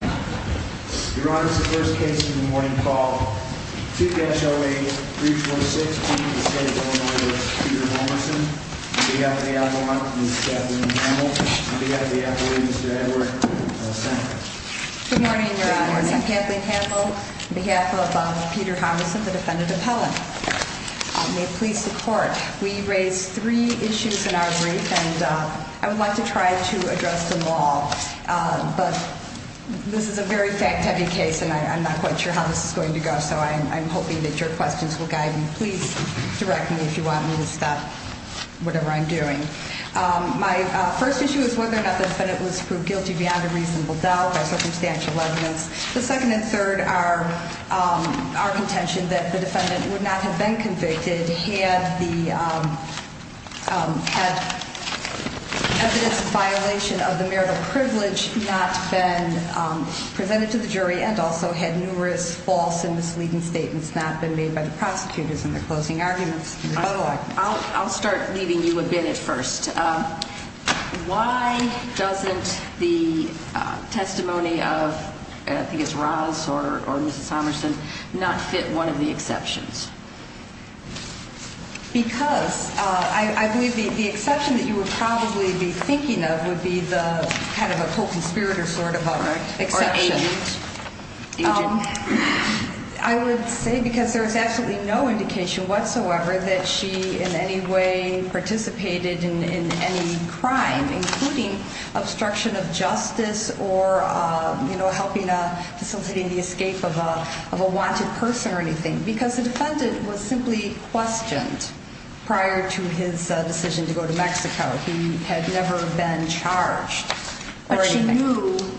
Your Honor, this is the first case in the morning call. 2-08-3416, the state of Illinois v. Peter Hommerson. On behalf of the appellant, Ms. Kathleen Campbell. On behalf of the appellant, Mr. Edward Sanford. Good morning, Your Honor. I'm Kathleen Campbell on behalf of Peter Hommerson, the defendant appellant. May it please the court, we raised three issues in our brief and I want to try to address them all. But this is a very fact heavy case and I'm not quite sure how this is going to go so I'm hoping that your questions will guide me. Please direct me if you want me to stop whatever I'm doing. My first issue is whether or not the defendant was proved guilty beyond a reasonable doubt by circumstantial evidence. The second and third are our contention that the defendant would not have been convicted had the evidence of violation of the marital privilege not been presented to the jury and also had numerous false and misleading statements not been made by the prosecutors in their closing arguments. I'll start leaving you a bit at first. Why doesn't the testimony of I think it's Roz or Mrs. Hommerson not fit one of the exceptions? Because I believe the exception that you would probably be thinking of would be the kind of a co-conspirator sort of exception. Or agent. I would say because there is absolutely no indication whatsoever that she in any way participated in any crime, including obstruction of justice or, you know, helping facilitating the escape of a of a wanted person or anything because the defendant was simply questioned prior to his decision to go to Mexico. He had never been charged.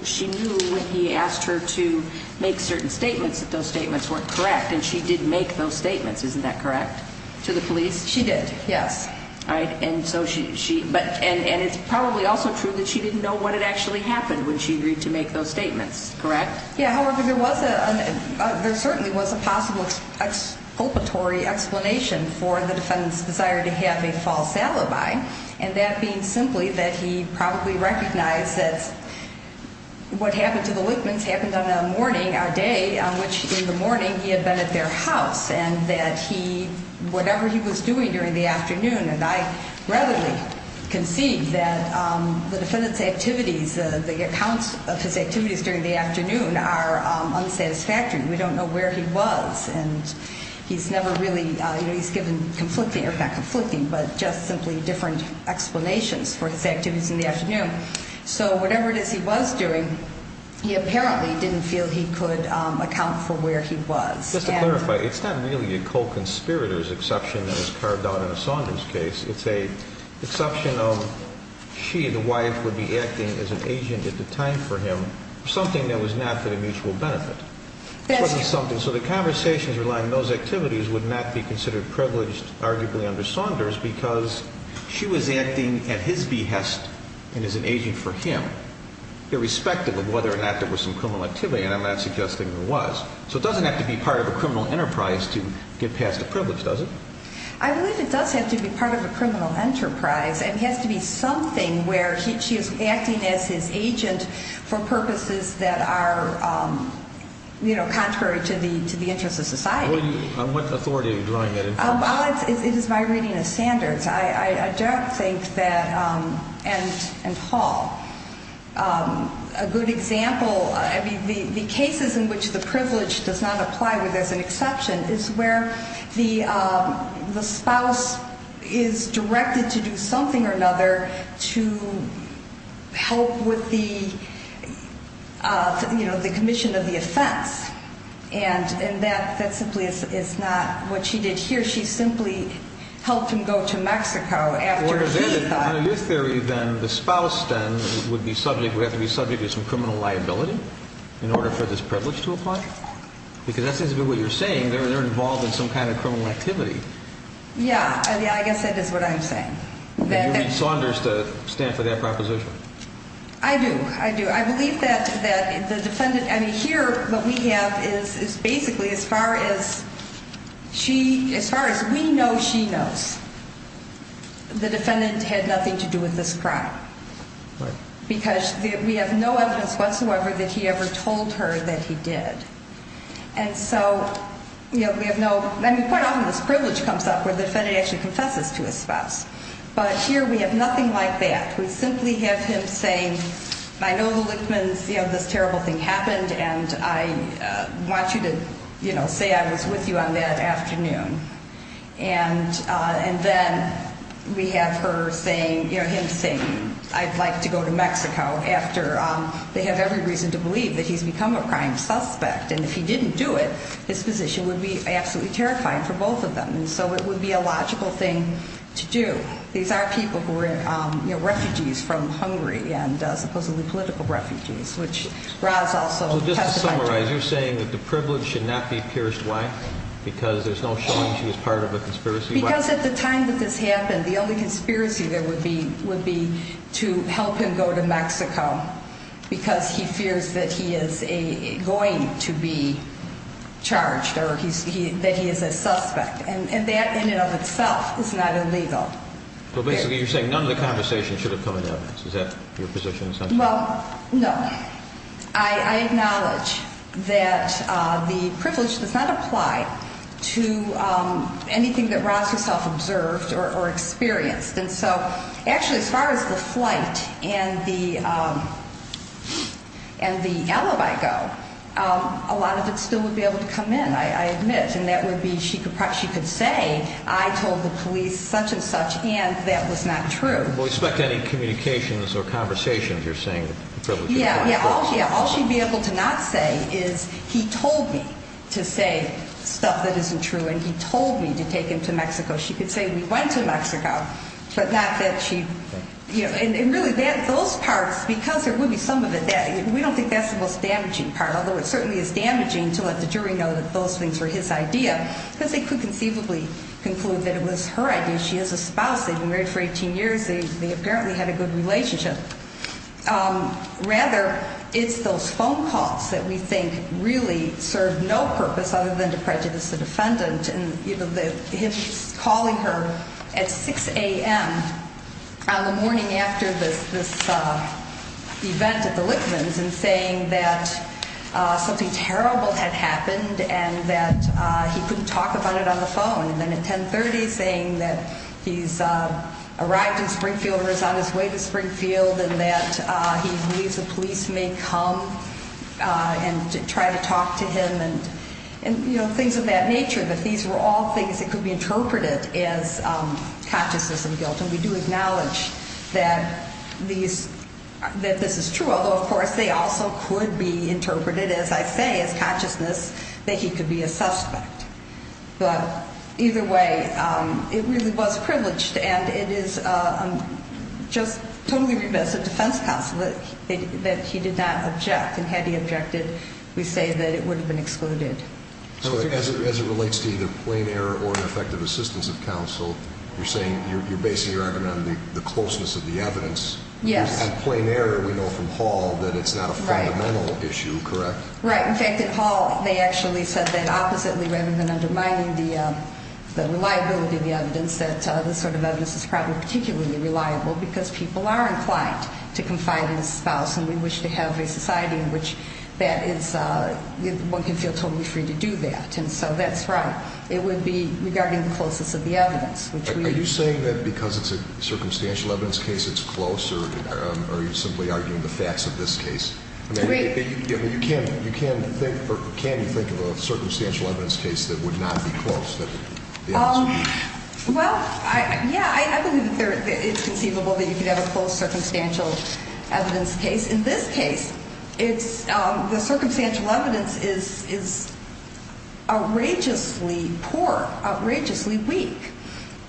She knew when he asked her to make certain statements that those statements weren't correct. And she did make those statements. Isn't that correct to the police? She did. Yes. All right. And so she but and it's probably also true that she didn't know what had actually happened when she agreed to make those statements. Correct. Yeah. However, there was a there certainly was a possible expulpatory explanation for the defendant's desire to have a false alibi. And that being simply that he probably recognized that what happened to the Whitman's happened on a morning, a day on which in the morning he had been at their house and that he whatever he was doing during the afternoon. And I readily concede that the defendant's activities, the accounts of his activities during the afternoon are unsatisfactory. We don't know where he was. And he's never really he's given conflicting or not conflicting, but just simply different explanations for his activities in the afternoon. So whatever it is he was doing, he apparently didn't feel he could account for where he was. Just to clarify, it's not really a co-conspirators exception that was carved out in a Saunders case. It's a exception of she and the wife would be acting as an agent at the time for him, something that was not for the mutual benefit. That's something. So the conversations relying on those activities would not be considered privileged, arguably under Saunders, because she was acting at his behest and as an agent for him, irrespective of whether or not there was some criminal activity. And I'm not suggesting there was. So it doesn't have to be part of a criminal enterprise to get past the privilege, does it? I believe it does have to be part of a criminal enterprise. It has to be something where she is acting as his agent for purposes that are contrary to the interests of society. On what authority are you drawing that in? It is my reading of Saunders. I don't think that – and Hall. A good example – the cases in which the privilege does not apply, where there's an exception, is where the spouse is directed to do something or another to help with the commission of the offense. And that simply is not what she did here. Here she simply helped him go to Mexico. On your theory, then, the spouse then would have to be subject to some criminal liability in order for this privilege to apply? Because that seems to be what you're saying. They're involved in some kind of criminal activity. Yeah. I guess that is what I'm saying. Would you read Saunders to stand for that proposition? I do. I do. I think that the defendant – I mean, here what we have is basically as far as she – as far as we know she knows, the defendant had nothing to do with this crime. Right. Because we have no evidence whatsoever that he ever told her that he did. And so, you know, we have no – I mean, quite often this privilege comes up where the defendant actually confesses to his spouse. But here we have nothing like that. We simply have him saying, I know the Lichtmans, you know, this terrible thing happened, and I want you to, you know, say I was with you on that afternoon. And then we have her saying – you know, him saying, I'd like to go to Mexico after they have every reason to believe that he's become a crime suspect. And if he didn't do it, his position would be absolutely terrifying for both of them. And so it would be a logical thing to do. These are people who were, you know, refugees from Hungary and supposedly political refugees, which Raz also testified to. So just to summarize, you're saying that the privilege should not be pierced, why? Because there's no showing she was part of a conspiracy? Because at the time that this happened, the only conspiracy there would be would be to help him go to Mexico because he fears that he is going to be charged or that he is a suspect. And that in and of itself is not illegal. So basically you're saying none of the conversation should have come into this. Is that your position? Well, no. I acknowledge that the privilege does not apply to anything that Raz herself observed or experienced. And so actually as far as the flight and the alibi go, a lot of it still would be able to come in, I admit. And that would be she could say, I told the police such and such, and that was not true. Will we expect any communications or conversations, you're saying, of the privilege? Yeah, all she'd be able to not say is he told me to say stuff that isn't true and he told me to take him to Mexico. She could say we went to Mexico, but not that she, you know, and really those parts, because there would be some of it that we don't think that's the most damaging part, although it certainly is damaging to let the jury know that those things were his idea, because they could conceivably conclude that it was her idea. She has a spouse. They've been married for 18 years. They apparently had a good relationship. Rather, it's those phone calls that we think really served no purpose other than to prejudice the defendant. And, you know, him calling her at 6 a.m. on the morning after this event at the Lickmans and saying that something terrible had happened and that he couldn't talk about it on the phone. And then at 10.30 saying that he's arrived in Springfield or is on his way to Springfield and that he believes the police may come and try to talk to him. And, you know, things of that nature, that these were all things that could be interpreted as consciousness and guilt. And we do acknowledge that this is true, although, of course, they also could be interpreted, as I say, as consciousness, that he could be a suspect. But either way, it really was privileged and it is just totally remiss of defense counsel that he did not object. And had he objected, we say that it would have been excluded. So as it relates to either plain error or ineffective assistance of counsel, you're saying you're basing your argument on the closeness of the evidence. Yes. And plain error, we know from Hall that it's not a fundamental issue, correct? Right. In fact, at Hall, they actually said that oppositely rather than undermining the reliability of the evidence, that this sort of evidence is probably particularly reliable because people are inclined to confide in the spouse. And we wish to have a society in which one can feel totally free to do that. And so that's right. It would be regarding the closeness of the evidence. Are you saying that because it's a circumstantial evidence case, it's close? Or are you simply arguing the facts of this case? I mean, can you think of a circumstantial evidence case that would not be close? Well, yeah, I believe it's conceivable that you could have a close circumstantial evidence case. In this case, the circumstantial evidence is outrageously poor, outrageously weak.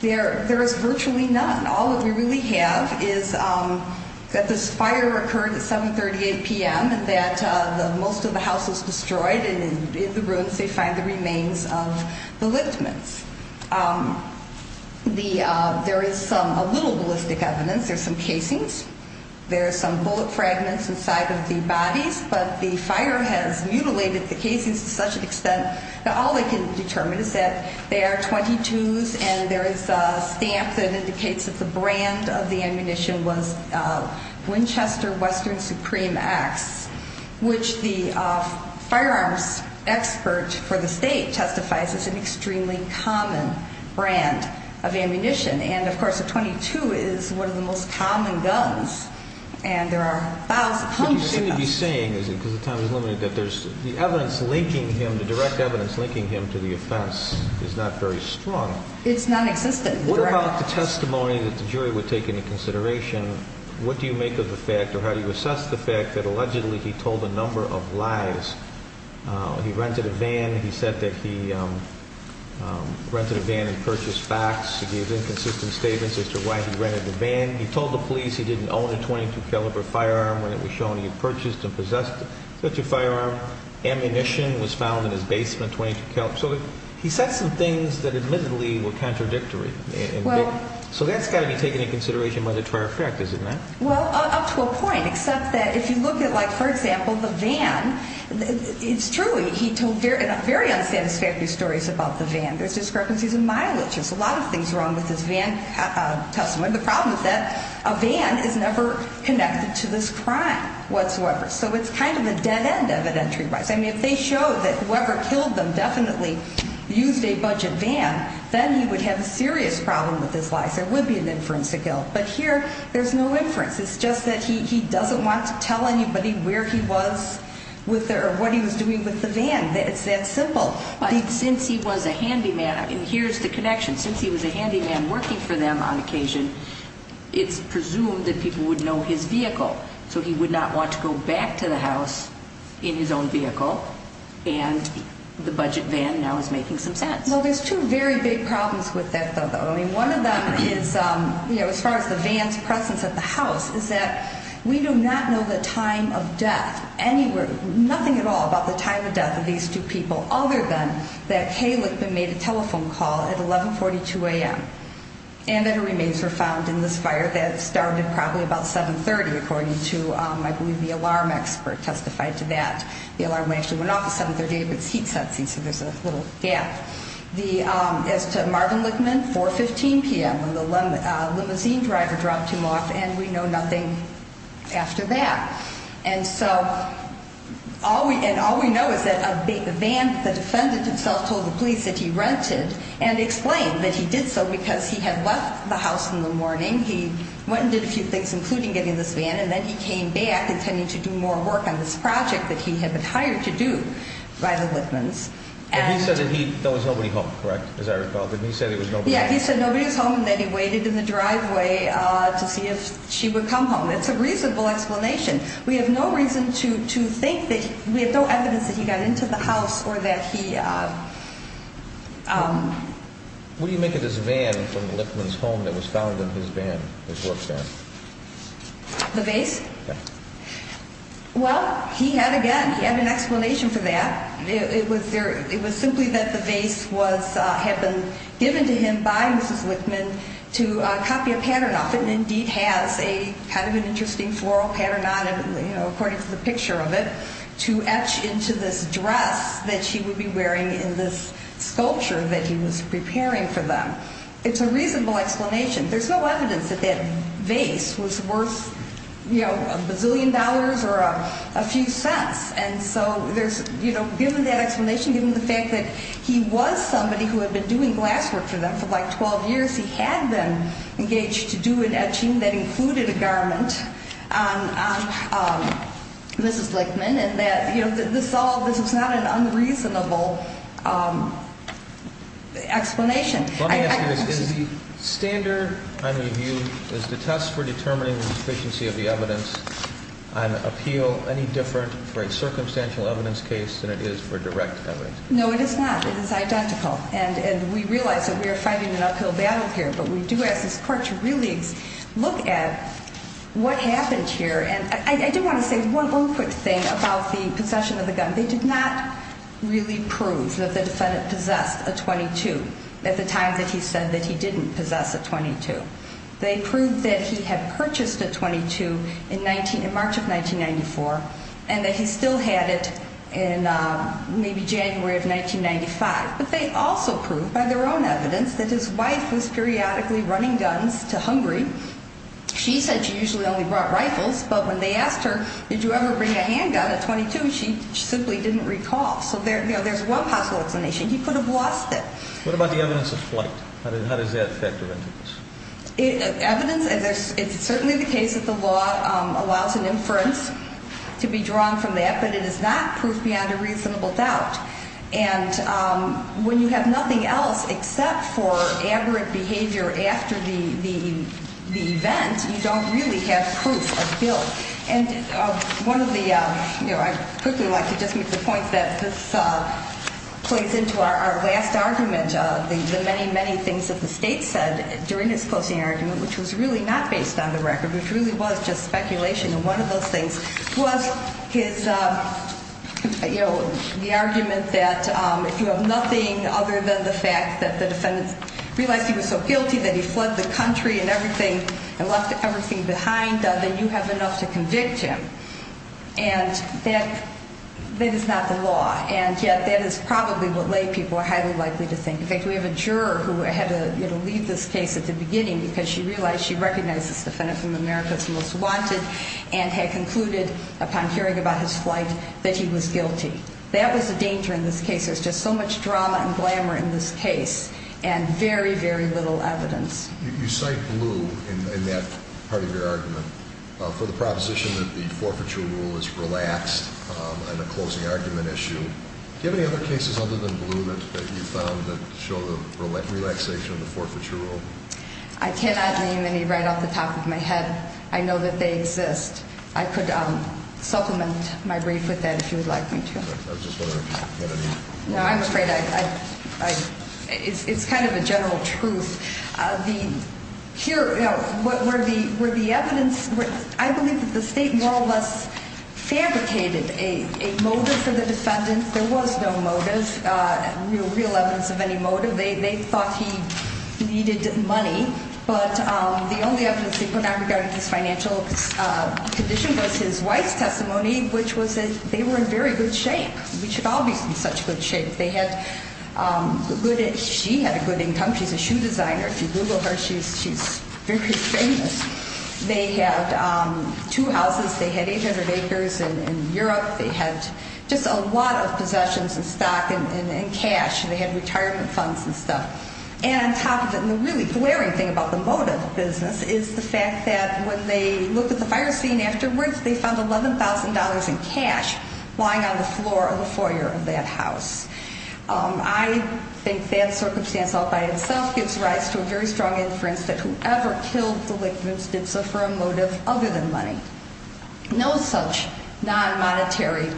There is virtually none. All that we really have is that this fire occurred at 7.38 p.m. and that most of the house was destroyed. And in the ruins, they find the remains of the Littmans. There is a little ballistic evidence. There are some casings. There are some bullet fragments inside of the bodies. But the fire has mutilated the casings to such an extent that all they can determine is that there are 22s. And there is a stamp that indicates that the brand of the ammunition was Winchester Western Supreme Axe, which the firearms expert for the state testifies is an extremely common brand of ammunition. And, of course, a .22 is one of the most common guns. And there are thousands of them. But you seem to be saying, because the time is limited, that the evidence linking him, the direct evidence linking him to the offense is not very strong. It's nonexistent. What about the testimony that the jury would take into consideration? What do you make of the fact, or how do you assess the fact, that allegedly he told a number of lies? He rented a van. He said that he rented a van and purchased facts. He gave inconsistent statements as to why he rented the van. He told the police he didn't own a .22 caliber firearm when it was shown he had purchased and possessed such a firearm. Ammunition was found in his basement, .22 caliber. So he said some things that admittedly were contradictory. So that's got to be taken into consideration by the trial effect, isn't it? Well, up to a point, except that if you look at, like, for example, the van, it's truly, he told very unsatisfactory stories about the van. There's discrepancies in mileage. There's a lot of things wrong with his van testimony. The problem is that a van is never connected to this crime whatsoever. So it's kind of a dead end evidentiary-wise. I mean, if they show that whoever killed them definitely used a budget van, then he would have a serious problem with his life. There would be an inference to kill. But here there's no inference. It's just that he doesn't want to tell anybody where he was or what he was doing with the van. It's that simple. But since he was a handyman, and here's the connection. Since he was a handyman working for them on occasion, it's presumed that people would know his vehicle. So he would not want to go back to the house in his own vehicle. And the budget van now is making some sense. Well, there's two very big problems with that, though. I mean, one of them is, you know, as far as the van's presence at the house, is that we do not know the time of death anywhere, nothing at all about the time of death of these two people, other than that Caleb had made a telephone call at 1142 a.m. and that her remains were found in this fire that started probably about 730, according to, I believe, the alarm expert testified to that. The alarm went off at 730, but it's heat-sensitive, so there's a little gap. As to Marvin Lichtman, 415 p.m., when the limousine driver dropped him off, and we know nothing after that. And so all we know is that the defendant himself told the police that he rented and explained that he did so because he had left the house in the morning. He went and did a few things, including getting this van, and then he came back intending to do more work on this project that he had been hired to do by the Lichtmans. And he said that there was nobody home, correct, as I recall? Didn't he say there was nobody home? Yeah, he said nobody was home, and then he waited in the driveway to see if she would come home. That's a reasonable explanation. We have no reason to think that we have no evidence that he got into the house or that he... What do you make of this van from Lichtman's home that was found in his van, his work van? The vase? Yeah. Well, he had, again, he had an explanation for that. It was simply that the vase had been given to him by Mrs. Lichtman to copy a pattern off it and indeed has a kind of an interesting floral pattern on it, according to the picture of it, to etch into this dress that she would be wearing in this sculpture that he was preparing for them. It's a reasonable explanation. There's no evidence that that vase was worth a bazillion dollars or a few cents. And so there's, you know, given that explanation, given the fact that he was somebody who had been doing glasswork for them for like 12 years, he had them engaged to do an etching that included a garment on Mrs. Lichtman, and that, you know, this is not an unreasonable explanation. Let me ask you this. Is the standard under review, is the test for determining the deficiency of the evidence on appeal any different for a circumstantial evidence case than it is for direct evidence? No, it is not. It is identical. And we realize that we are fighting an uphill battle here, but we do ask this court to really look at what happened here. And I do want to say one quick thing about the possession of the gun. They did not really prove that the defendant possessed a .22 at the time that he said that he didn't possess a .22. They proved that he had purchased a .22 in March of 1994 and that he still had it in maybe January of 1995. But they also proved by their own evidence that his wife was periodically running guns to hungry. She said she usually only brought rifles, but when they asked her, did you ever bring a handgun, a .22, she simply didn't recall. So there's one possible explanation. He could have lost it. What about the evidence of flight? How does that factor into this? Evidence, it's certainly the case that the law allows an inference to be drawn from that, but it is not proof beyond a reasonable doubt. And when you have nothing else except for aberrant behavior after the event, you don't really have proof of guilt. And one of the, you know, I'd quickly like to just make the point that this plays into our last argument, the many, many things that the State said during his closing argument, which was really not based on the record, which really was just speculation. And one of those things was his, you know, the argument that if you have nothing other than the fact that the defendant realized he was so guilty that he fled the country and everything and left everything behind, then you have enough to convict him. And that is not the law. And yet that is probably what lay people are highly likely to think. In fact, we have a juror who had to leave this case at the beginning because she realized she recognized this defendant from America's Most Wanted and had concluded upon hearing about his flight that he was guilty. That was the danger in this case. There was just so much drama and glamour in this case and very, very little evidence. You cite Blue in that part of your argument for the proposition that the forfeiture rule is relaxed on a closing argument issue. Do you have any other cases other than Blue that you found that show the relaxation of the forfeiture rule? I cannot name any right off the top of my head. I know that they exist. I could supplement my brief with that if you would like me to. I was just wondering if you had any. No, I'm afraid I don't. It's kind of a general truth. Here, what were the evidence? I believe that the state more or less fabricated a motive for the defendant. There was no motive, no real evidence of any motive. They thought he needed money. But the only evidence they put out regarding his financial condition was his wife's testimony, which was that they were in very good shape. We should all be in such good shape. She had a good income. She's a shoe designer. If you Google her, she's very famous. They had two houses. They had 800 acres in Europe. They had just a lot of possessions and stock and cash. They had retirement funds and stuff. And on top of it, and the really glaring thing about the motive business, is the fact that when they looked at the fire scene afterwards, they found $11,000 in cash lying on the floor of the foyer of that house. I think that circumstance all by itself gives rise to a very strong inference that whoever killed the victims did so for a motive other than money. No such non-monetary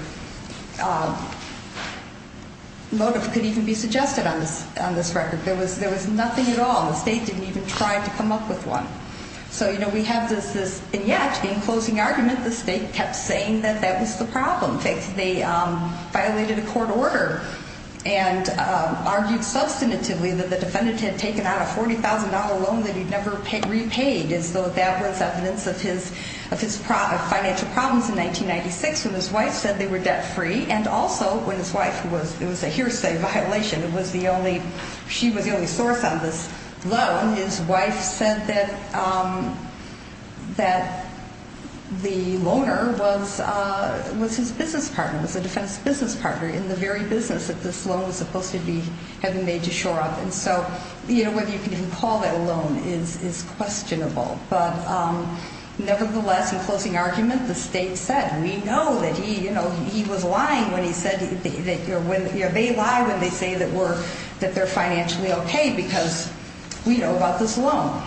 motive could even be suggested on this record. There was nothing at all. The state didn't even try to come up with one. So, you know, we have this, and yet, in closing argument, the state kept saying that that was the problem. In fact, they violated a court order and argued substantively that the defendant had taken out a $40,000 loan that he'd never repaid, as though that was evidence of his financial problems in 1996 when his wife said they were debt-free, and also when his wife was a hearsay violation. She was the only source on this loan. His wife said that the loaner was his business partner, was the defendant's business partner in the very business that this loan was supposed to have been made to shore up. And so whether you can even call that a loan is questionable. But nevertheless, in closing argument, the state said, we know that he was lying when he said that they lie when they say that they're financially okay because we know about this loan.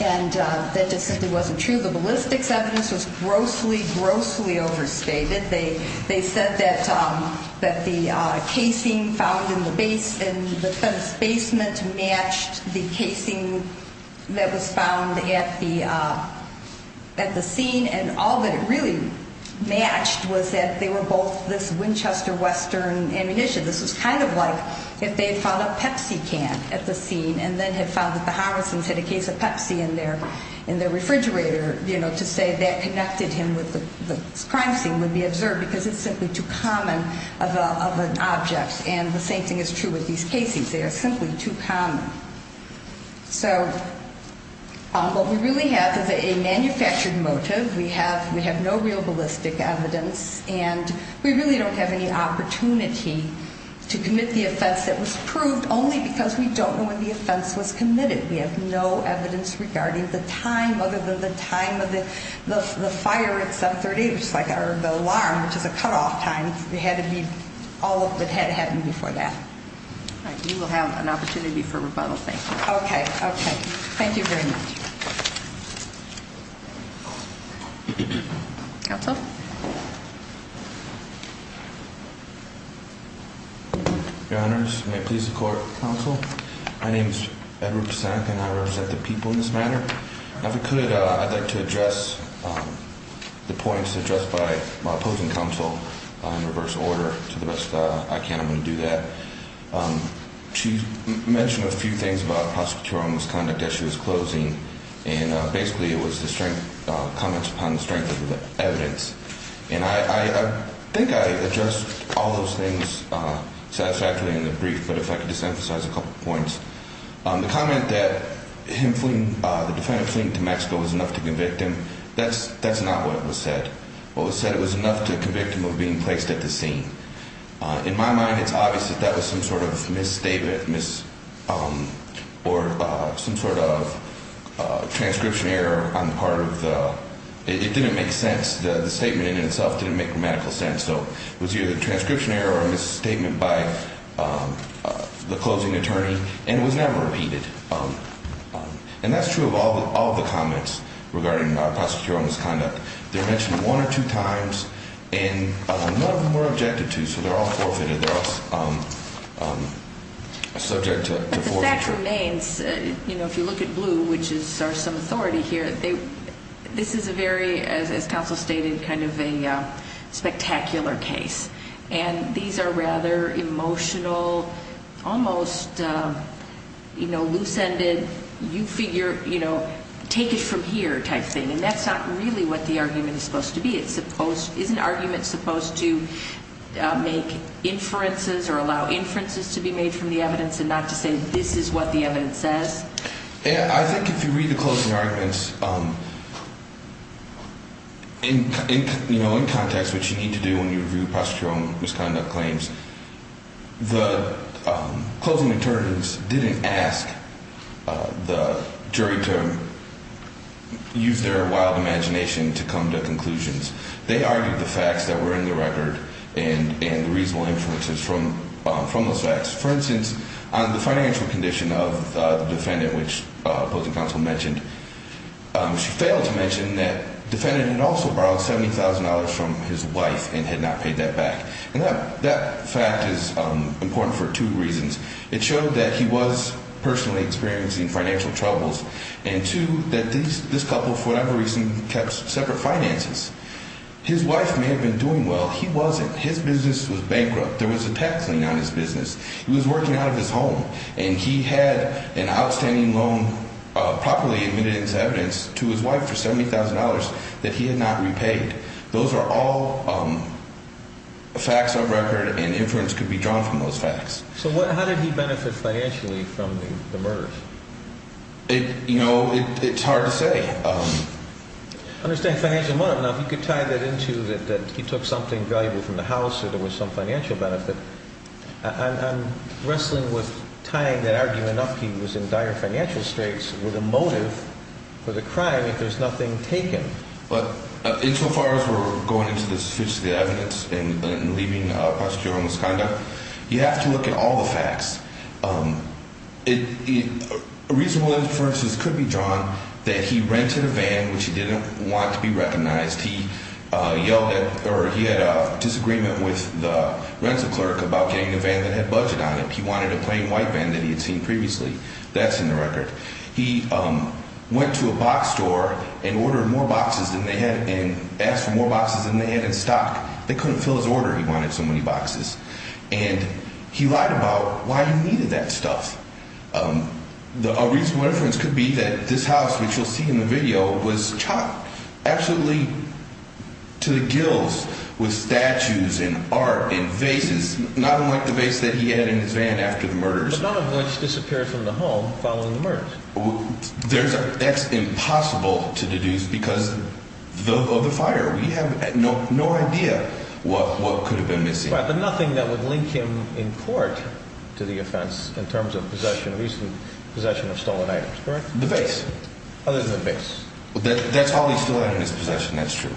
And that just simply wasn't true. The ballistics evidence was grossly, grossly overstated. They said that the casing found in the basement matched the casing that was found at the scene, and all that it really matched was that they were both this Winchester Western ammunition. This was kind of like if they had found a Pepsi can at the scene and then had found that the Harrisons had a case of Pepsi in their refrigerator, to say that connected him with the crime scene would be observed because it's simply too common of an object. And the same thing is true with these casings. They are simply too common. So what we really have is a manufactured motive. We have no real ballistic evidence, and we really don't have any opportunity to commit the offense that was proved only because we don't know when the offense was committed. We have no evidence regarding the time other than the time of the fire at 738, or the alarm, which is a cutoff time. It had to be all that had happened before that. All right. You will have an opportunity for rebuttal. Thank you. Okay. Okay. Thank you very much. Counsel? Your Honors, may it please the Court. Counsel. My name is Edward Pisanthi, and I represent the people in this matter. If I could, I'd like to address the points addressed by my opposing counsel in reverse order. To the best I can, I'm going to do that. She mentioned a few things about prosecutorial misconduct as she was closing, and basically it was the comments upon the strength of the evidence. And I think I addressed all those things satisfactorily in the brief, but if I could just emphasize a couple points. The comment that him fleeing, the defendant fleeing to Mexico was enough to convict him, that's not what was said. What was said, it was enough to convict him of being placed at the scene. In my mind, it's obvious that that was some sort of misstatement, or some sort of transcription error on the part of the, it didn't make sense. The statement in itself didn't make grammatical sense. So it was either a transcription error or a misstatement by the closing attorney, and it was never repeated. And that's true of all the comments regarding prosecutorial misconduct. They're mentioned one or two times, and none of them were objected to, so they're all forfeited. They're all subject to forfeiture. But the fact remains, if you look at blue, which is our sum of authority here, this is a very, as counsel stated, kind of a spectacular case. And these are rather emotional, almost, you know, loose-ended, you figure, you know, take it from here type thing. And that's not really what the argument is supposed to be. It's supposed, is an argument supposed to make inferences or allow inferences to be made from the evidence and not to say this is what the evidence says? I think if you read the closing arguments in context, which you need to do when you review prosecutorial misconduct claims, the closing attorneys didn't ask the jury to use their wild imagination to come to conclusions. They argued the facts that were in the record and the reasonable inferences from those facts. For instance, on the financial condition of the defendant, which opposing counsel mentioned, she failed to mention that the defendant had also borrowed $70,000 from his wife and had not paid that back. And that fact is important for two reasons. It showed that he was personally experiencing financial troubles, and two, that this couple, for whatever reason, kept separate finances. His wife may have been doing well. He wasn't. His business was bankrupt. There was a tax lien on his business. He was working out of his home, and he had an outstanding loan, properly admitted as evidence, to his wife for $70,000 that he had not repaid. Those are all facts of record, and inference could be drawn from those facts. So how did he benefit financially from the murders? You know, it's hard to say. I understand financial money. I don't know if you could tie that into that he took something valuable from the house or there was some financial benefit. I'm wrestling with tying that argument up. He was in dire financial straits with a motive for the crime if there's nothing taken. But insofar as we're going into the sophisticated evidence and leaving a posterior on misconduct, you have to look at all the facts. Reasonable inferences could be drawn that he rented a van, which he didn't want to be recognized. He yelled at or he had a disagreement with the rental clerk about getting a van that had budget on it. He wanted a plain white van that he had seen previously. That's in the record. He went to a box store and ordered more boxes than they had and asked for more boxes than they had in stock. They couldn't fill his order. He wanted so many boxes. And he lied about why he needed that stuff. A reasonable inference could be that this house, which you'll see in the video, was chopped absolutely to the gills with statues and art and vases, not unlike the vase that he had in his van after the murders. But none of which disappeared from the home following the murders. That's impossible to deduce because of the fire. We have no idea what could have been missing. But nothing that would link him in court to the offense in terms of possession of stolen items, correct? The vase. Other than the vase. That's all he still had in his possession. That's true.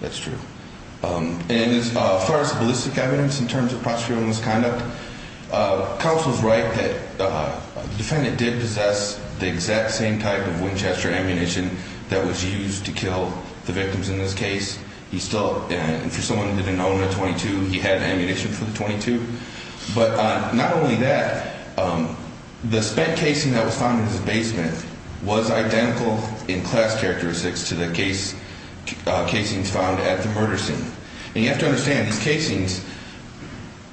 That's true. As far as ballistic evidence in terms of prosecutorial misconduct, counsel's right that the defendant did possess the exact same type of Winchester ammunition that was used to kill the victims in this case. And for someone who didn't own a .22, he had ammunition for the .22. But not only that, the spent casing that was found in his basement was identical in class characteristics to the casings found at the murder scene. And you have to understand, these casings,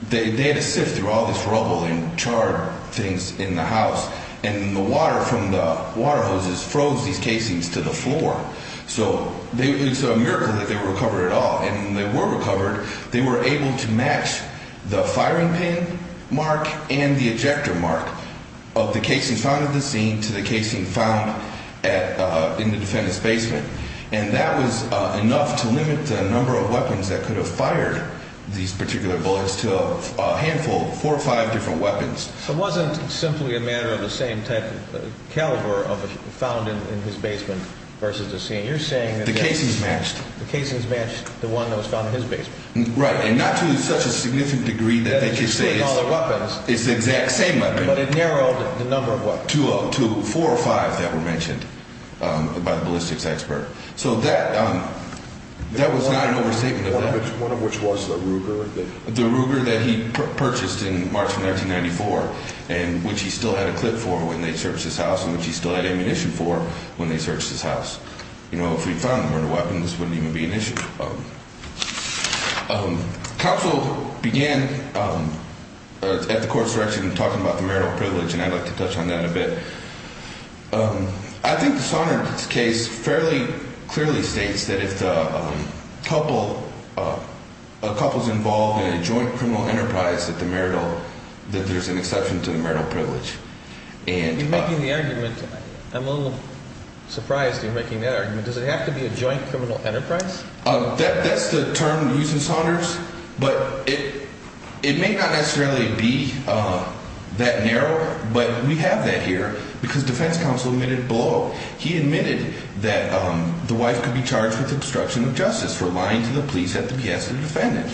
they had to sift through all this rubble and char things in the house. And the water from the water hoses froze these casings to the floor. So it's a miracle that they were recovered at all. And when they were recovered, they were able to match the firing pin mark and the ejector mark of the casing found at the scene to the casing found in the defendant's basement. And that was enough to limit the number of weapons that could have fired these particular bullets to a handful, four or five different weapons. It wasn't simply a matter of the same type of caliber found in his basement versus the scene. You're saying that the casings matched the one that was found in his basement. Right. And not to such a significant degree that they could say it's the exact same weapon. But it narrowed the number of what? To four or five that were mentioned by the ballistics expert. So that was not an overstatement of that. One of which was the Ruger. The Ruger that he purchased in March of 1994 and which he still had a clip for when they searched his house and which he still had ammunition for when they searched his house. You know, if we found more weapons, this wouldn't even be an issue. Counsel began at the court's direction talking about the marital privilege, and I'd like to touch on that a bit. I think the Saunders case fairly clearly states that if a couple is involved in a joint criminal enterprise that there's an exception to the marital privilege. You're making the argument. I'm a little surprised you're making that argument. Does it have to be a joint criminal enterprise? That's the term used in Saunders, but it may not necessarily be that narrow, but we have that here because defense counsel admitted below. He admitted that the wife could be charged with obstruction of justice for lying to the police at the behest of the defendant.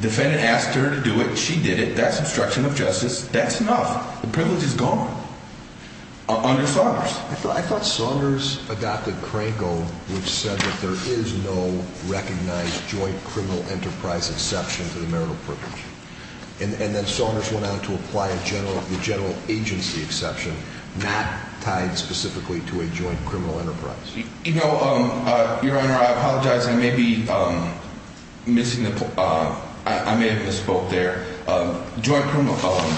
Defendant asked her to do it. She did it. That's obstruction of justice. That's enough. The privilege is gone under Saunders. I thought Saunders adopted Cranco, which said that there is no recognized joint criminal enterprise exception to the marital privilege. And then Saunders went on to apply a general agency exception not tied specifically to a joint criminal enterprise. You know, Your Honor, I apologize. I may be missing the point. I may have misspoke there. Joint criminal column,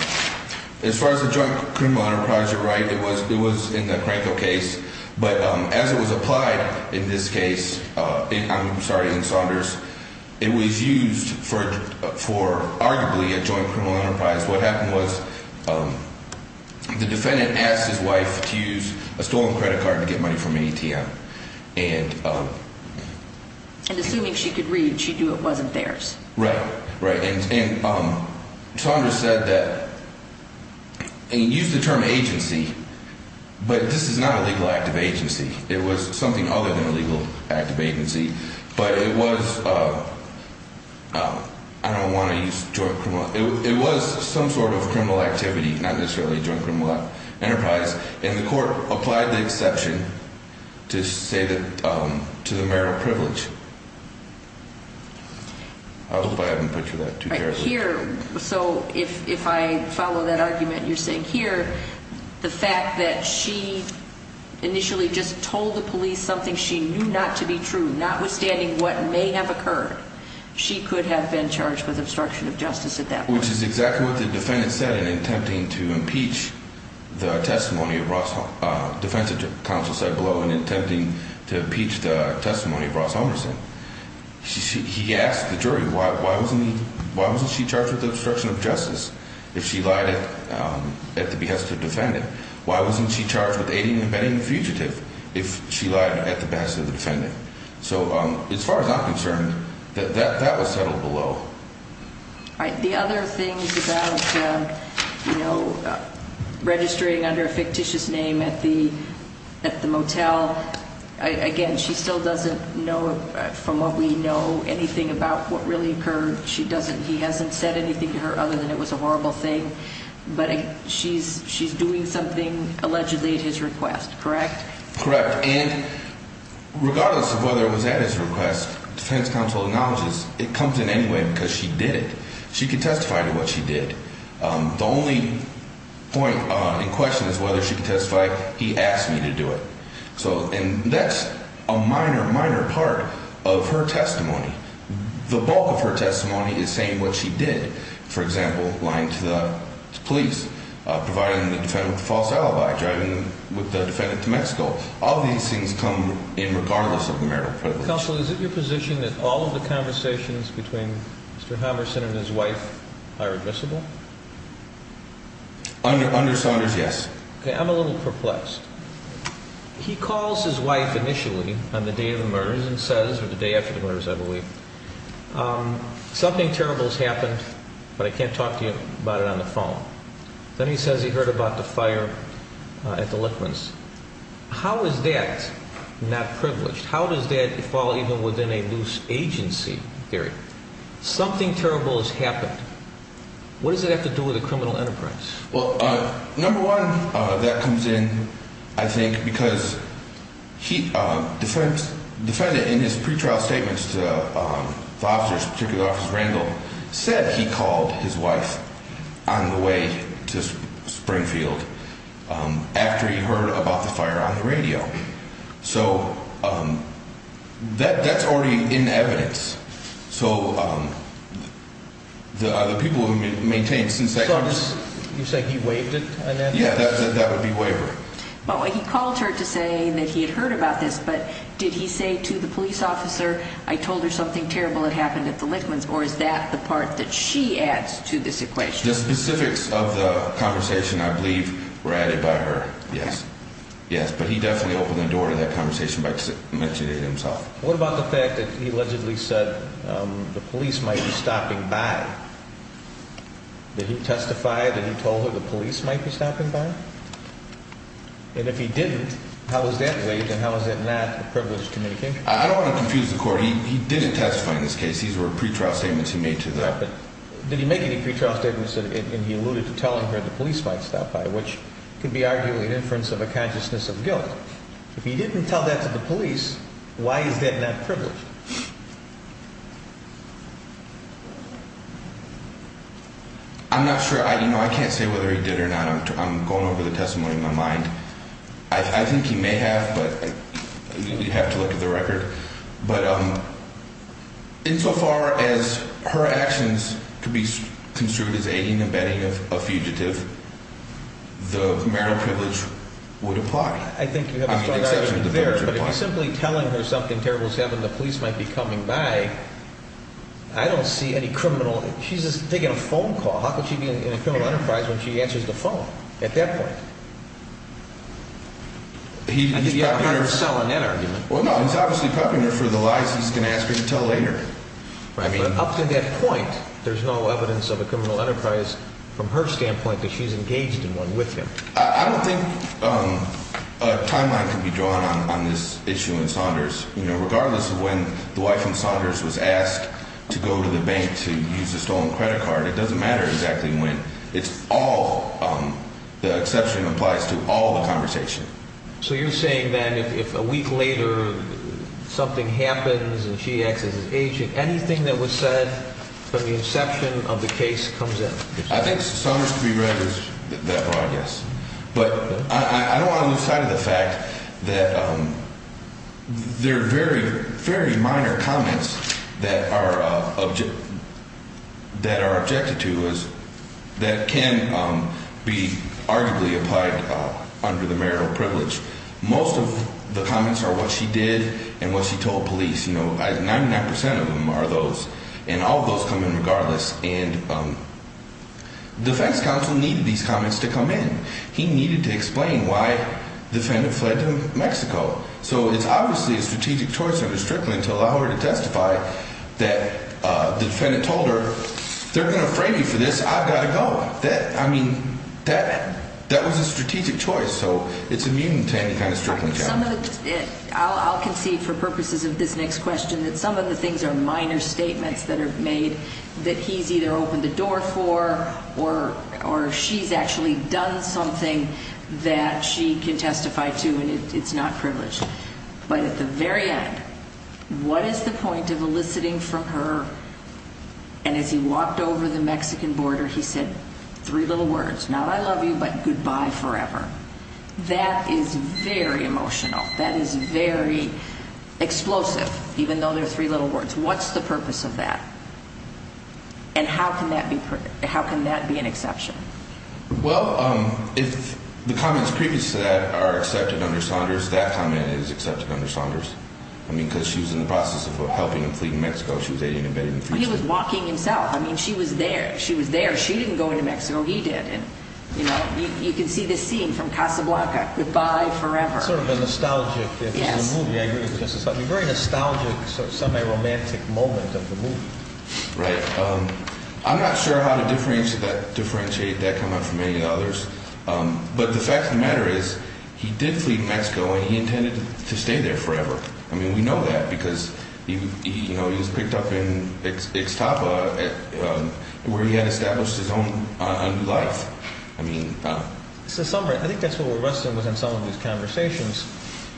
as far as the joint criminal enterprise, you're right. It was in the Cranco case, but as it was applied in this case, I'm sorry, in Saunders, it was used for arguably a joint criminal enterprise. What happened was the defendant asked his wife to use a stolen credit card to get money from an ATM. And assuming she could read, she knew it wasn't theirs. Right, right. And Saunders said that he used the term agency, but this is not a legal act of agency. It was something other than a legal act of agency. But it was, I don't want to use joint criminal, it was some sort of criminal activity, not necessarily a joint criminal enterprise. And the court applied the exception to say that, to the marital privilege. I hope I haven't put you that too terribly. Right, here, so if I follow that argument you're saying here, the fact that she initially just told the police something she knew not to be true, notwithstanding what may have occurred, she could have been charged with obstruction of justice at that point. Which is exactly what the defendant said in attempting to impeach the testimony of Ross, defense counsel said below, in attempting to impeach the testimony of Ross Homerson. He asked the jury, why wasn't she charged with obstruction of justice if she lied at the behest of the defendant? Why wasn't she charged with aiding and abetting the fugitive if she lied at the behest of the defendant? So as far as I'm concerned, that was settled below. All right, the other things about, you know, registering under a fictitious name at the motel. Again, she still doesn't know, from what we know, anything about what really occurred. She doesn't, he hasn't said anything to her other than it was a horrible thing. But she's doing something allegedly at his request, correct? Correct. And regardless of whether it was at his request, defense counsel acknowledges it comes in any way because she did it. She can testify to what she did. The only point in question is whether she can testify, he asked me to do it. And that's a minor, minor part of her testimony. The bulk of her testimony is saying what she did. For example, lying to the police, providing the defendant with a false alibi, driving the defendant to Mexico. All of these things come in regardless of the marital privilege. Counsel, is it your position that all of the conversations between Mr. Hammerson and his wife are admissible? Understanders, yes. Okay, I'm a little perplexed. He calls his wife initially on the day of the murders and says, or the day after the murders, I believe, something terrible has happened, but I can't talk to you about it on the phone. Then he says he heard about the fire at the Lichtmans. How is that not privileged? How does that fall even within a loose agency theory? Something terrible has happened. What does it have to do with a criminal enterprise? Well, number one, that comes in, I think, because the defendant in his pretrial statements to the officers, particularly Officer Randall, said he called his wife on the way to Springfield after he heard about the fire on the radio. So that's already in evidence. So are the people who maintain since that comes? You're saying he waived it? Yeah, that would be waiver. Well, he called her to say that he had heard about this, but did he say to the police officer, I told her something terrible had happened at the Lichtmans, or is that the part that she adds to this equation? The specifics of the conversation, I believe, were added by her, yes. Yes, but he definitely opened the door to that conversation by mentioning it himself. What about the fact that he allegedly said the police might be stopping by? Did he testify that he told her the police might be stopping by? And if he didn't, how is that waived and how is that not a privileged communication? I don't want to confuse the court. He didn't testify in this case. These were pretrial statements he made to the – Right, but did he make any pretrial statements and he alluded to telling her the police might stop by, which could be arguably an inference of a consciousness of guilt. If he didn't tell that to the police, why is that not privileged? I'm not sure. I can't say whether he did or not. I'm going over the testimony in my mind. I think he may have, but you'd have to look at the record. But insofar as her actions could be construed as aiding and abetting a fugitive, the marital privilege would apply. I think you have a strong argument there, but if he's simply telling her something terrible is happening, the police might be coming by, I don't see any criminal – she's just taking a phone call. How could she be in a criminal enterprise when she answers the phone at that point? I think you have a hard sell on that argument. Well, no, he's obviously prepping her for the lies he's going to ask her to tell later. But up to that point, there's no evidence of a criminal enterprise from her standpoint that she's engaged in one with him. I don't think a timeline can be drawn on this issue in Saunders. Regardless of when the wife in Saunders was asked to go to the bank to use a stolen credit card, it doesn't matter exactly when. It's all – the exception applies to all the conversation. So you're saying that if a week later something happens and she acts as an agent, anything that was said from the inception of the case comes in? I think Saunders to be read that broad, yes. But I don't want to lose sight of the fact that there are very, very minor comments that are objected to that can be arguably applied under the marital privilege. Most of the comments are what she did and what she told police. 99% of them are those, and all of those come in regardless. And defense counsel needed these comments to come in. He needed to explain why the defendant fled to Mexico. So it's obviously a strategic choice under Strickland to allow her to testify that the defendant told her, they're going to frame me for this, I've got to go. I mean, that was a strategic choice. So it's immune to any kind of Strickland challenge. I'll concede for purposes of this next question that some of the things are minor statements that are made that he's either opened the door for or she's actually done something that she can testify to, and it's not privileged. But at the very end, what is the point of eliciting from her, and as he walked over the Mexican border he said three little words, not I love you, but goodbye forever. That is very emotional. That is very explosive, even though they're three little words. What's the purpose of that? And how can that be an exception? Well, if the comments previous to that are accepted under Saunders, that comment is accepted under Saunders. I mean, because she was in the process of helping him flee to Mexico. She was aiding and abetting him. He was walking himself. I mean, she was there. She was there. She didn't go into Mexico. He did. You can see this scene from Casablanca, goodbye forever. Sort of a nostalgic. Yes. Very nostalgic, semi-romantic moment of the movie. Right. I'm not sure how to differentiate that comment from any of the others, but the fact of the matter is he did flee to Mexico, and he intended to stay there forever. I mean, we know that because he was picked up in Ixtapa where he had established his own life. I mean. I think that's what we're wrestling with in some of these conversations.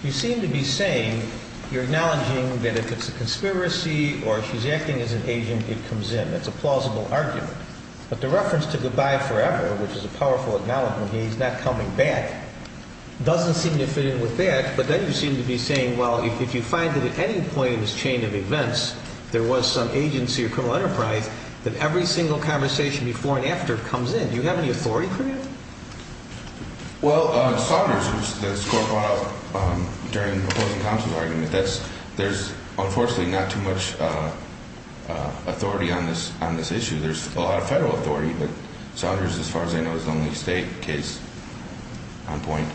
You seem to be saying you're acknowledging that if it's a conspiracy or she's acting as an agent, it comes in. It's a plausible argument. But the reference to goodbye forever, which is a powerful acknowledgement, he's not coming back, doesn't seem to fit in with that. But then you seem to be saying, well, if you find that at any point in this chain of events there was some agency or criminal enterprise, that every single conversation before and after comes in. Do you have any authority for that? Well, Saunders, who this Court brought up during the opposing counsel's argument, there's unfortunately not too much authority on this issue. There's a lot of federal authority, but Saunders, as far as I know, is the only state case on point.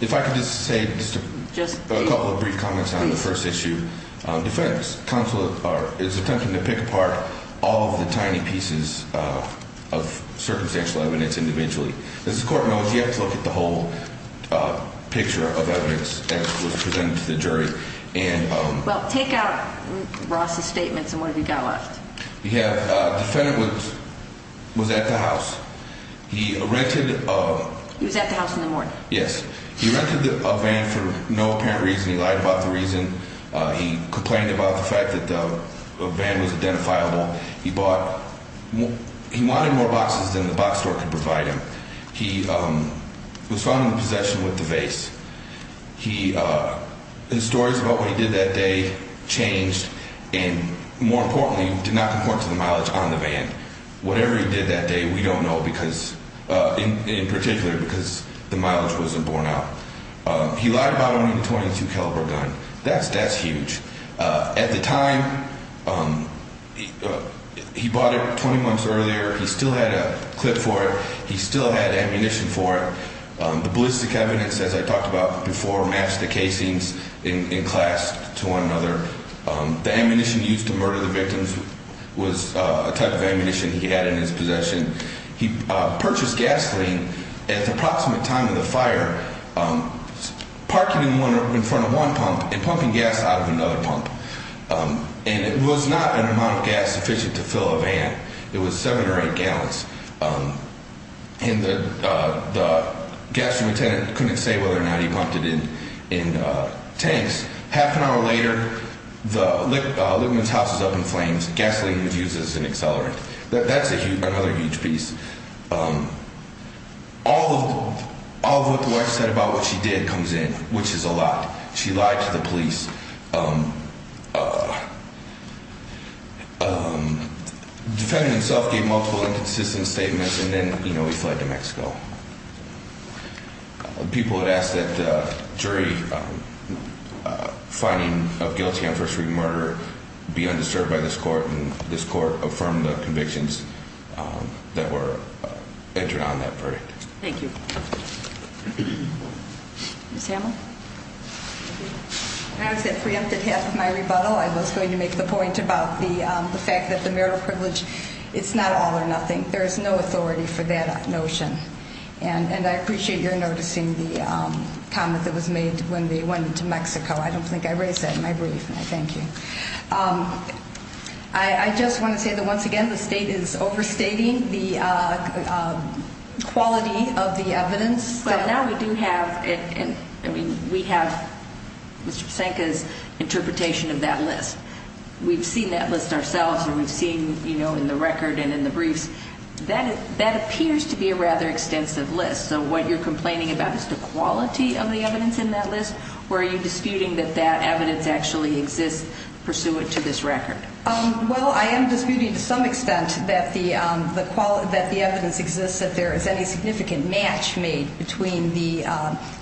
If I could just say a couple of brief comments on the first issue. Defendant is attempting to pick apart all of the tiny pieces of circumstantial evidence individually. As the Court knows, you have to look at the whole picture of evidence that was presented to the jury. Well, take out Ross' statements and what have you got left? You have defendant was at the house. He rented a van for no apparent reason. He lied about the reason. He complained about the fact that the van was identifiable. He wanted more boxes than the box store could provide him. He was found in possession with the vase. His stories about what he did that day changed and, more importantly, did not comport to the mileage on the van. Whatever he did that day, we don't know, in particular, because the mileage wasn't borne out. He lied about owning a .22 caliber gun. That's huge. At the time, he bought it 20 months earlier. He still had a clip for it. He still had ammunition for it. The ballistic evidence, as I talked about before, matched the casings in class to one another. The ammunition used to murder the victims was a type of ammunition he had in his possession. He purchased gasoline at the approximate time of the fire, parking it in front of one pump and pumping gas out of another pump. And it was not an amount of gas sufficient to fill a van. It was seven or eight gallons. And the gasoline attendant couldn't say whether or not he pumped it in tanks. Half an hour later, Lippman's house was up in flames. Gasoline was used as an accelerant. That's another huge piece. All of what the wife said about what she did comes in, which is a lot. She lied to the police. The defendant himself gave multiple inconsistent statements, and then he fled to Mexico. People had asked that the jury finding of guilty on first-degree murder be undisturbed by this court, and this court affirmed the convictions that were entered on that verdict. Thank you. Ms. Hamel. When I was at preempted half of my rebuttal, I was going to make the point about the fact that the marital privilege, it's not all or nothing. There is no authority for that notion. And I appreciate your noticing the comment that was made when they went into Mexico. I don't think I raised that in my brief, and I thank you. I just want to say that, once again, the state is overstating the quality of the evidence. But now we do have Mr. Psenka's interpretation of that list. We've seen that list ourselves, and we've seen, you know, in the record and in the briefs. That appears to be a rather extensive list. So what you're complaining about is the quality of the evidence in that list, or are you disputing that that evidence actually exists pursuant to this record? Well, I am disputing to some extent that the evidence exists, that there is any significant match made between the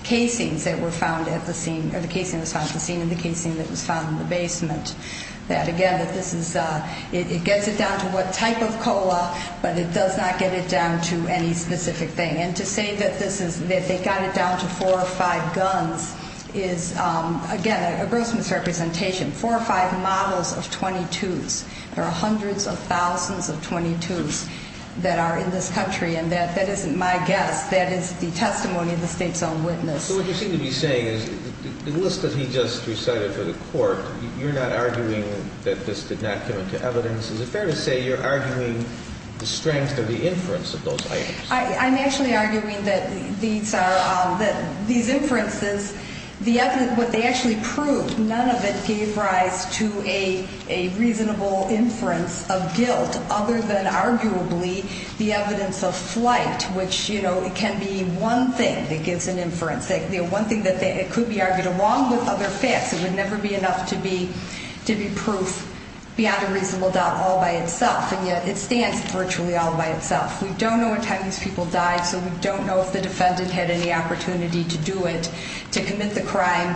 casings that were found at the scene or the casing that was found at the scene and the casing that was found in the basement. Again, it gets it down to what type of COLA, but it does not get it down to any specific thing. And to say that they got it down to four or five guns is, again, a gross misrepresentation. Four or five models of .22s. There are hundreds of thousands of .22s that are in this country, and that isn't my guess. That is the testimony of the state's own witness. So what you seem to be saying is the list that he just recited for the court, you're not arguing that this did not come into evidence. Is it fair to say you're arguing the strength of the inference of those items? I'm actually arguing that these inferences, what they actually proved, none of it gave rise to a reasonable inference of guilt other than arguably the evidence of flight, which can be one thing that gives an inference, one thing that could be argued along with other facts. It would never be enough to be proof beyond a reasonable doubt all by itself, and yet it stands virtually all by itself. We don't know what time these people died, so we don't know if the defendant had any opportunity to do it, to commit the crime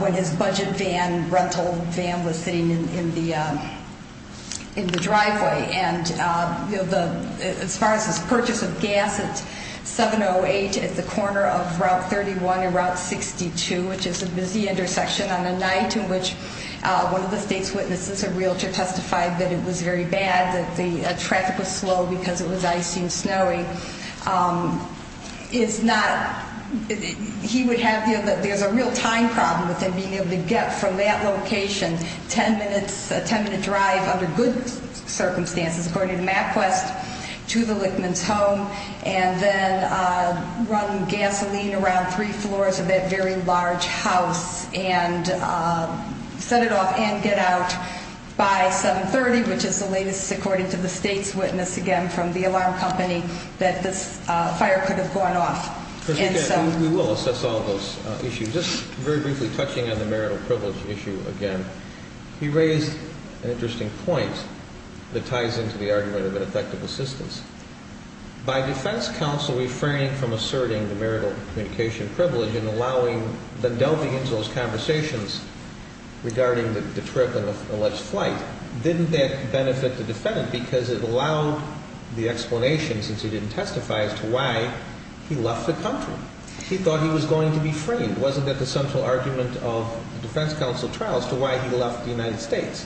when his budget van, rental van, was sitting in the driveway. And as far as his purchase of gas at 7-08 at the corner of Route 31 and Route 62, which is a busy intersection on a night in which one of the state's witnesses, a realtor, testified that it was very bad, that the traffic was slow because it was icy and snowy. It's not – he would have – there's a real time problem with him being able to get from that location, 10-minute drive under good circumstances, according to MapQuest, to the Lichtman's home, and then run gasoline around three floors of that very large house and set it off and get out by 7-30, which is the latest, according to the state's witness, again from the alarm company, that this fire could have gone off. We will assess all of those issues. Just very briefly touching on the marital privilege issue again, he raised an interesting point that ties into the argument of ineffective assistance. By defense counsel refraining from asserting the marital communication privilege and allowing – then delving into those conversations regarding the trip and the alleged flight, didn't that benefit the defendant because it allowed the explanation, since he didn't testify, as to why he left the country. He thought he was going to be framed. It wasn't that the central argument of the defense counsel trial as to why he left the United States.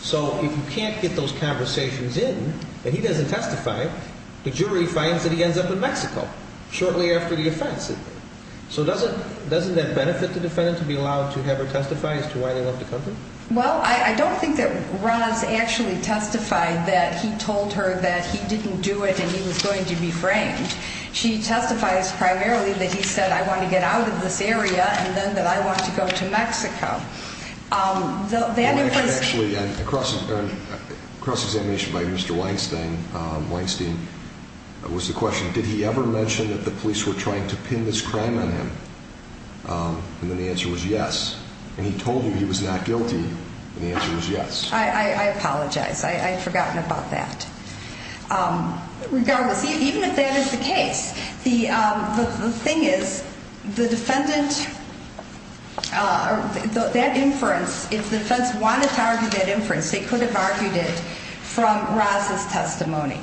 So if you can't get those conversations in and he doesn't testify, the jury finds that he ends up in Mexico shortly after the offense. So doesn't that benefit the defendant to be allowed to have her testify as to why they left the country? Well, I don't think that Roz actually testified that he told her that he didn't do it and he was going to be framed. She testifies primarily that he said, I want to get out of this area and then that I want to go to Mexico. Well, actually, across examination by Mr. Weinstein, it was the question, did he ever mention that the police were trying to pin this crime on him? And then the answer was yes. And he told you he was not guilty, and the answer was yes. I apologize. I had forgotten about that. Regardless, even if that is the case, the thing is, the defendant – that inference, if the defense wanted to argue that inference, they could have argued it from Roz's testimony,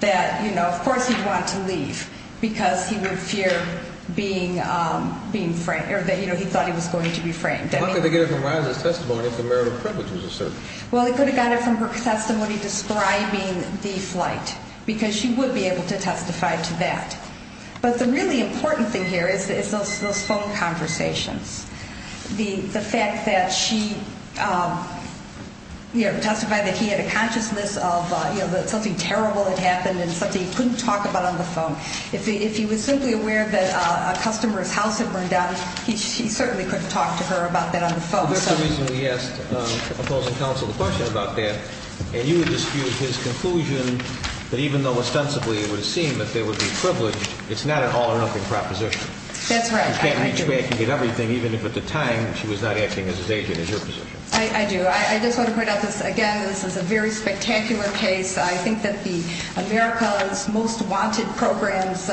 that, you know, of course he'd want to leave because he would fear being framed or that, you know, he thought he was going to be framed. How could they get it from Roz's testimony if the marital privilege was asserted? Well, they could have got it from her testimony describing the flight because she would be able to testify to that. But the really important thing here is those phone conversations, the fact that she testified that he had a consciousness of, you know, that something terrible had happened and something he couldn't talk about on the phone. If he was simply aware that a customer's house had burned down, he certainly couldn't talk to her about that on the phone. Well, that's the reason we asked opposing counsel the question about that. And you dispute his conclusion that even though ostensibly it would seem that there would be privilege, it's not an all-or-nothing proposition. That's right. You can't reach back and get everything even if at the time she was not acting as his agent. That's your position. I do. I just want to point out this again. This is a very spectacular case. I think that the America's Most Wanted Program's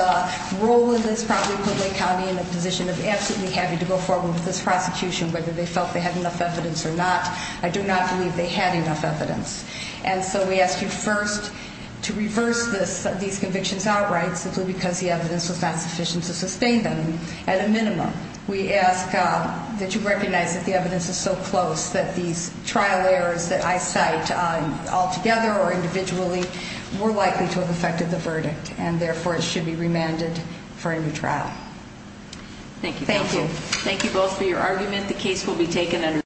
role in this probably put Lake County in a position of absolutely having to go forward with this prosecution whether they felt they had enough evidence or not. I do not believe they had enough evidence. And so we ask you first to reverse these convictions outright simply because the evidence was not sufficient to sustain them. At a minimum, we ask that you recognize that the evidence is so close that these trial errors that I cite altogether or individually were likely to have affected the verdict and, therefore, it should be remanded for a new trial. Thank you, counsel. Thank you. Thank you both for your argument. The case will be taken under-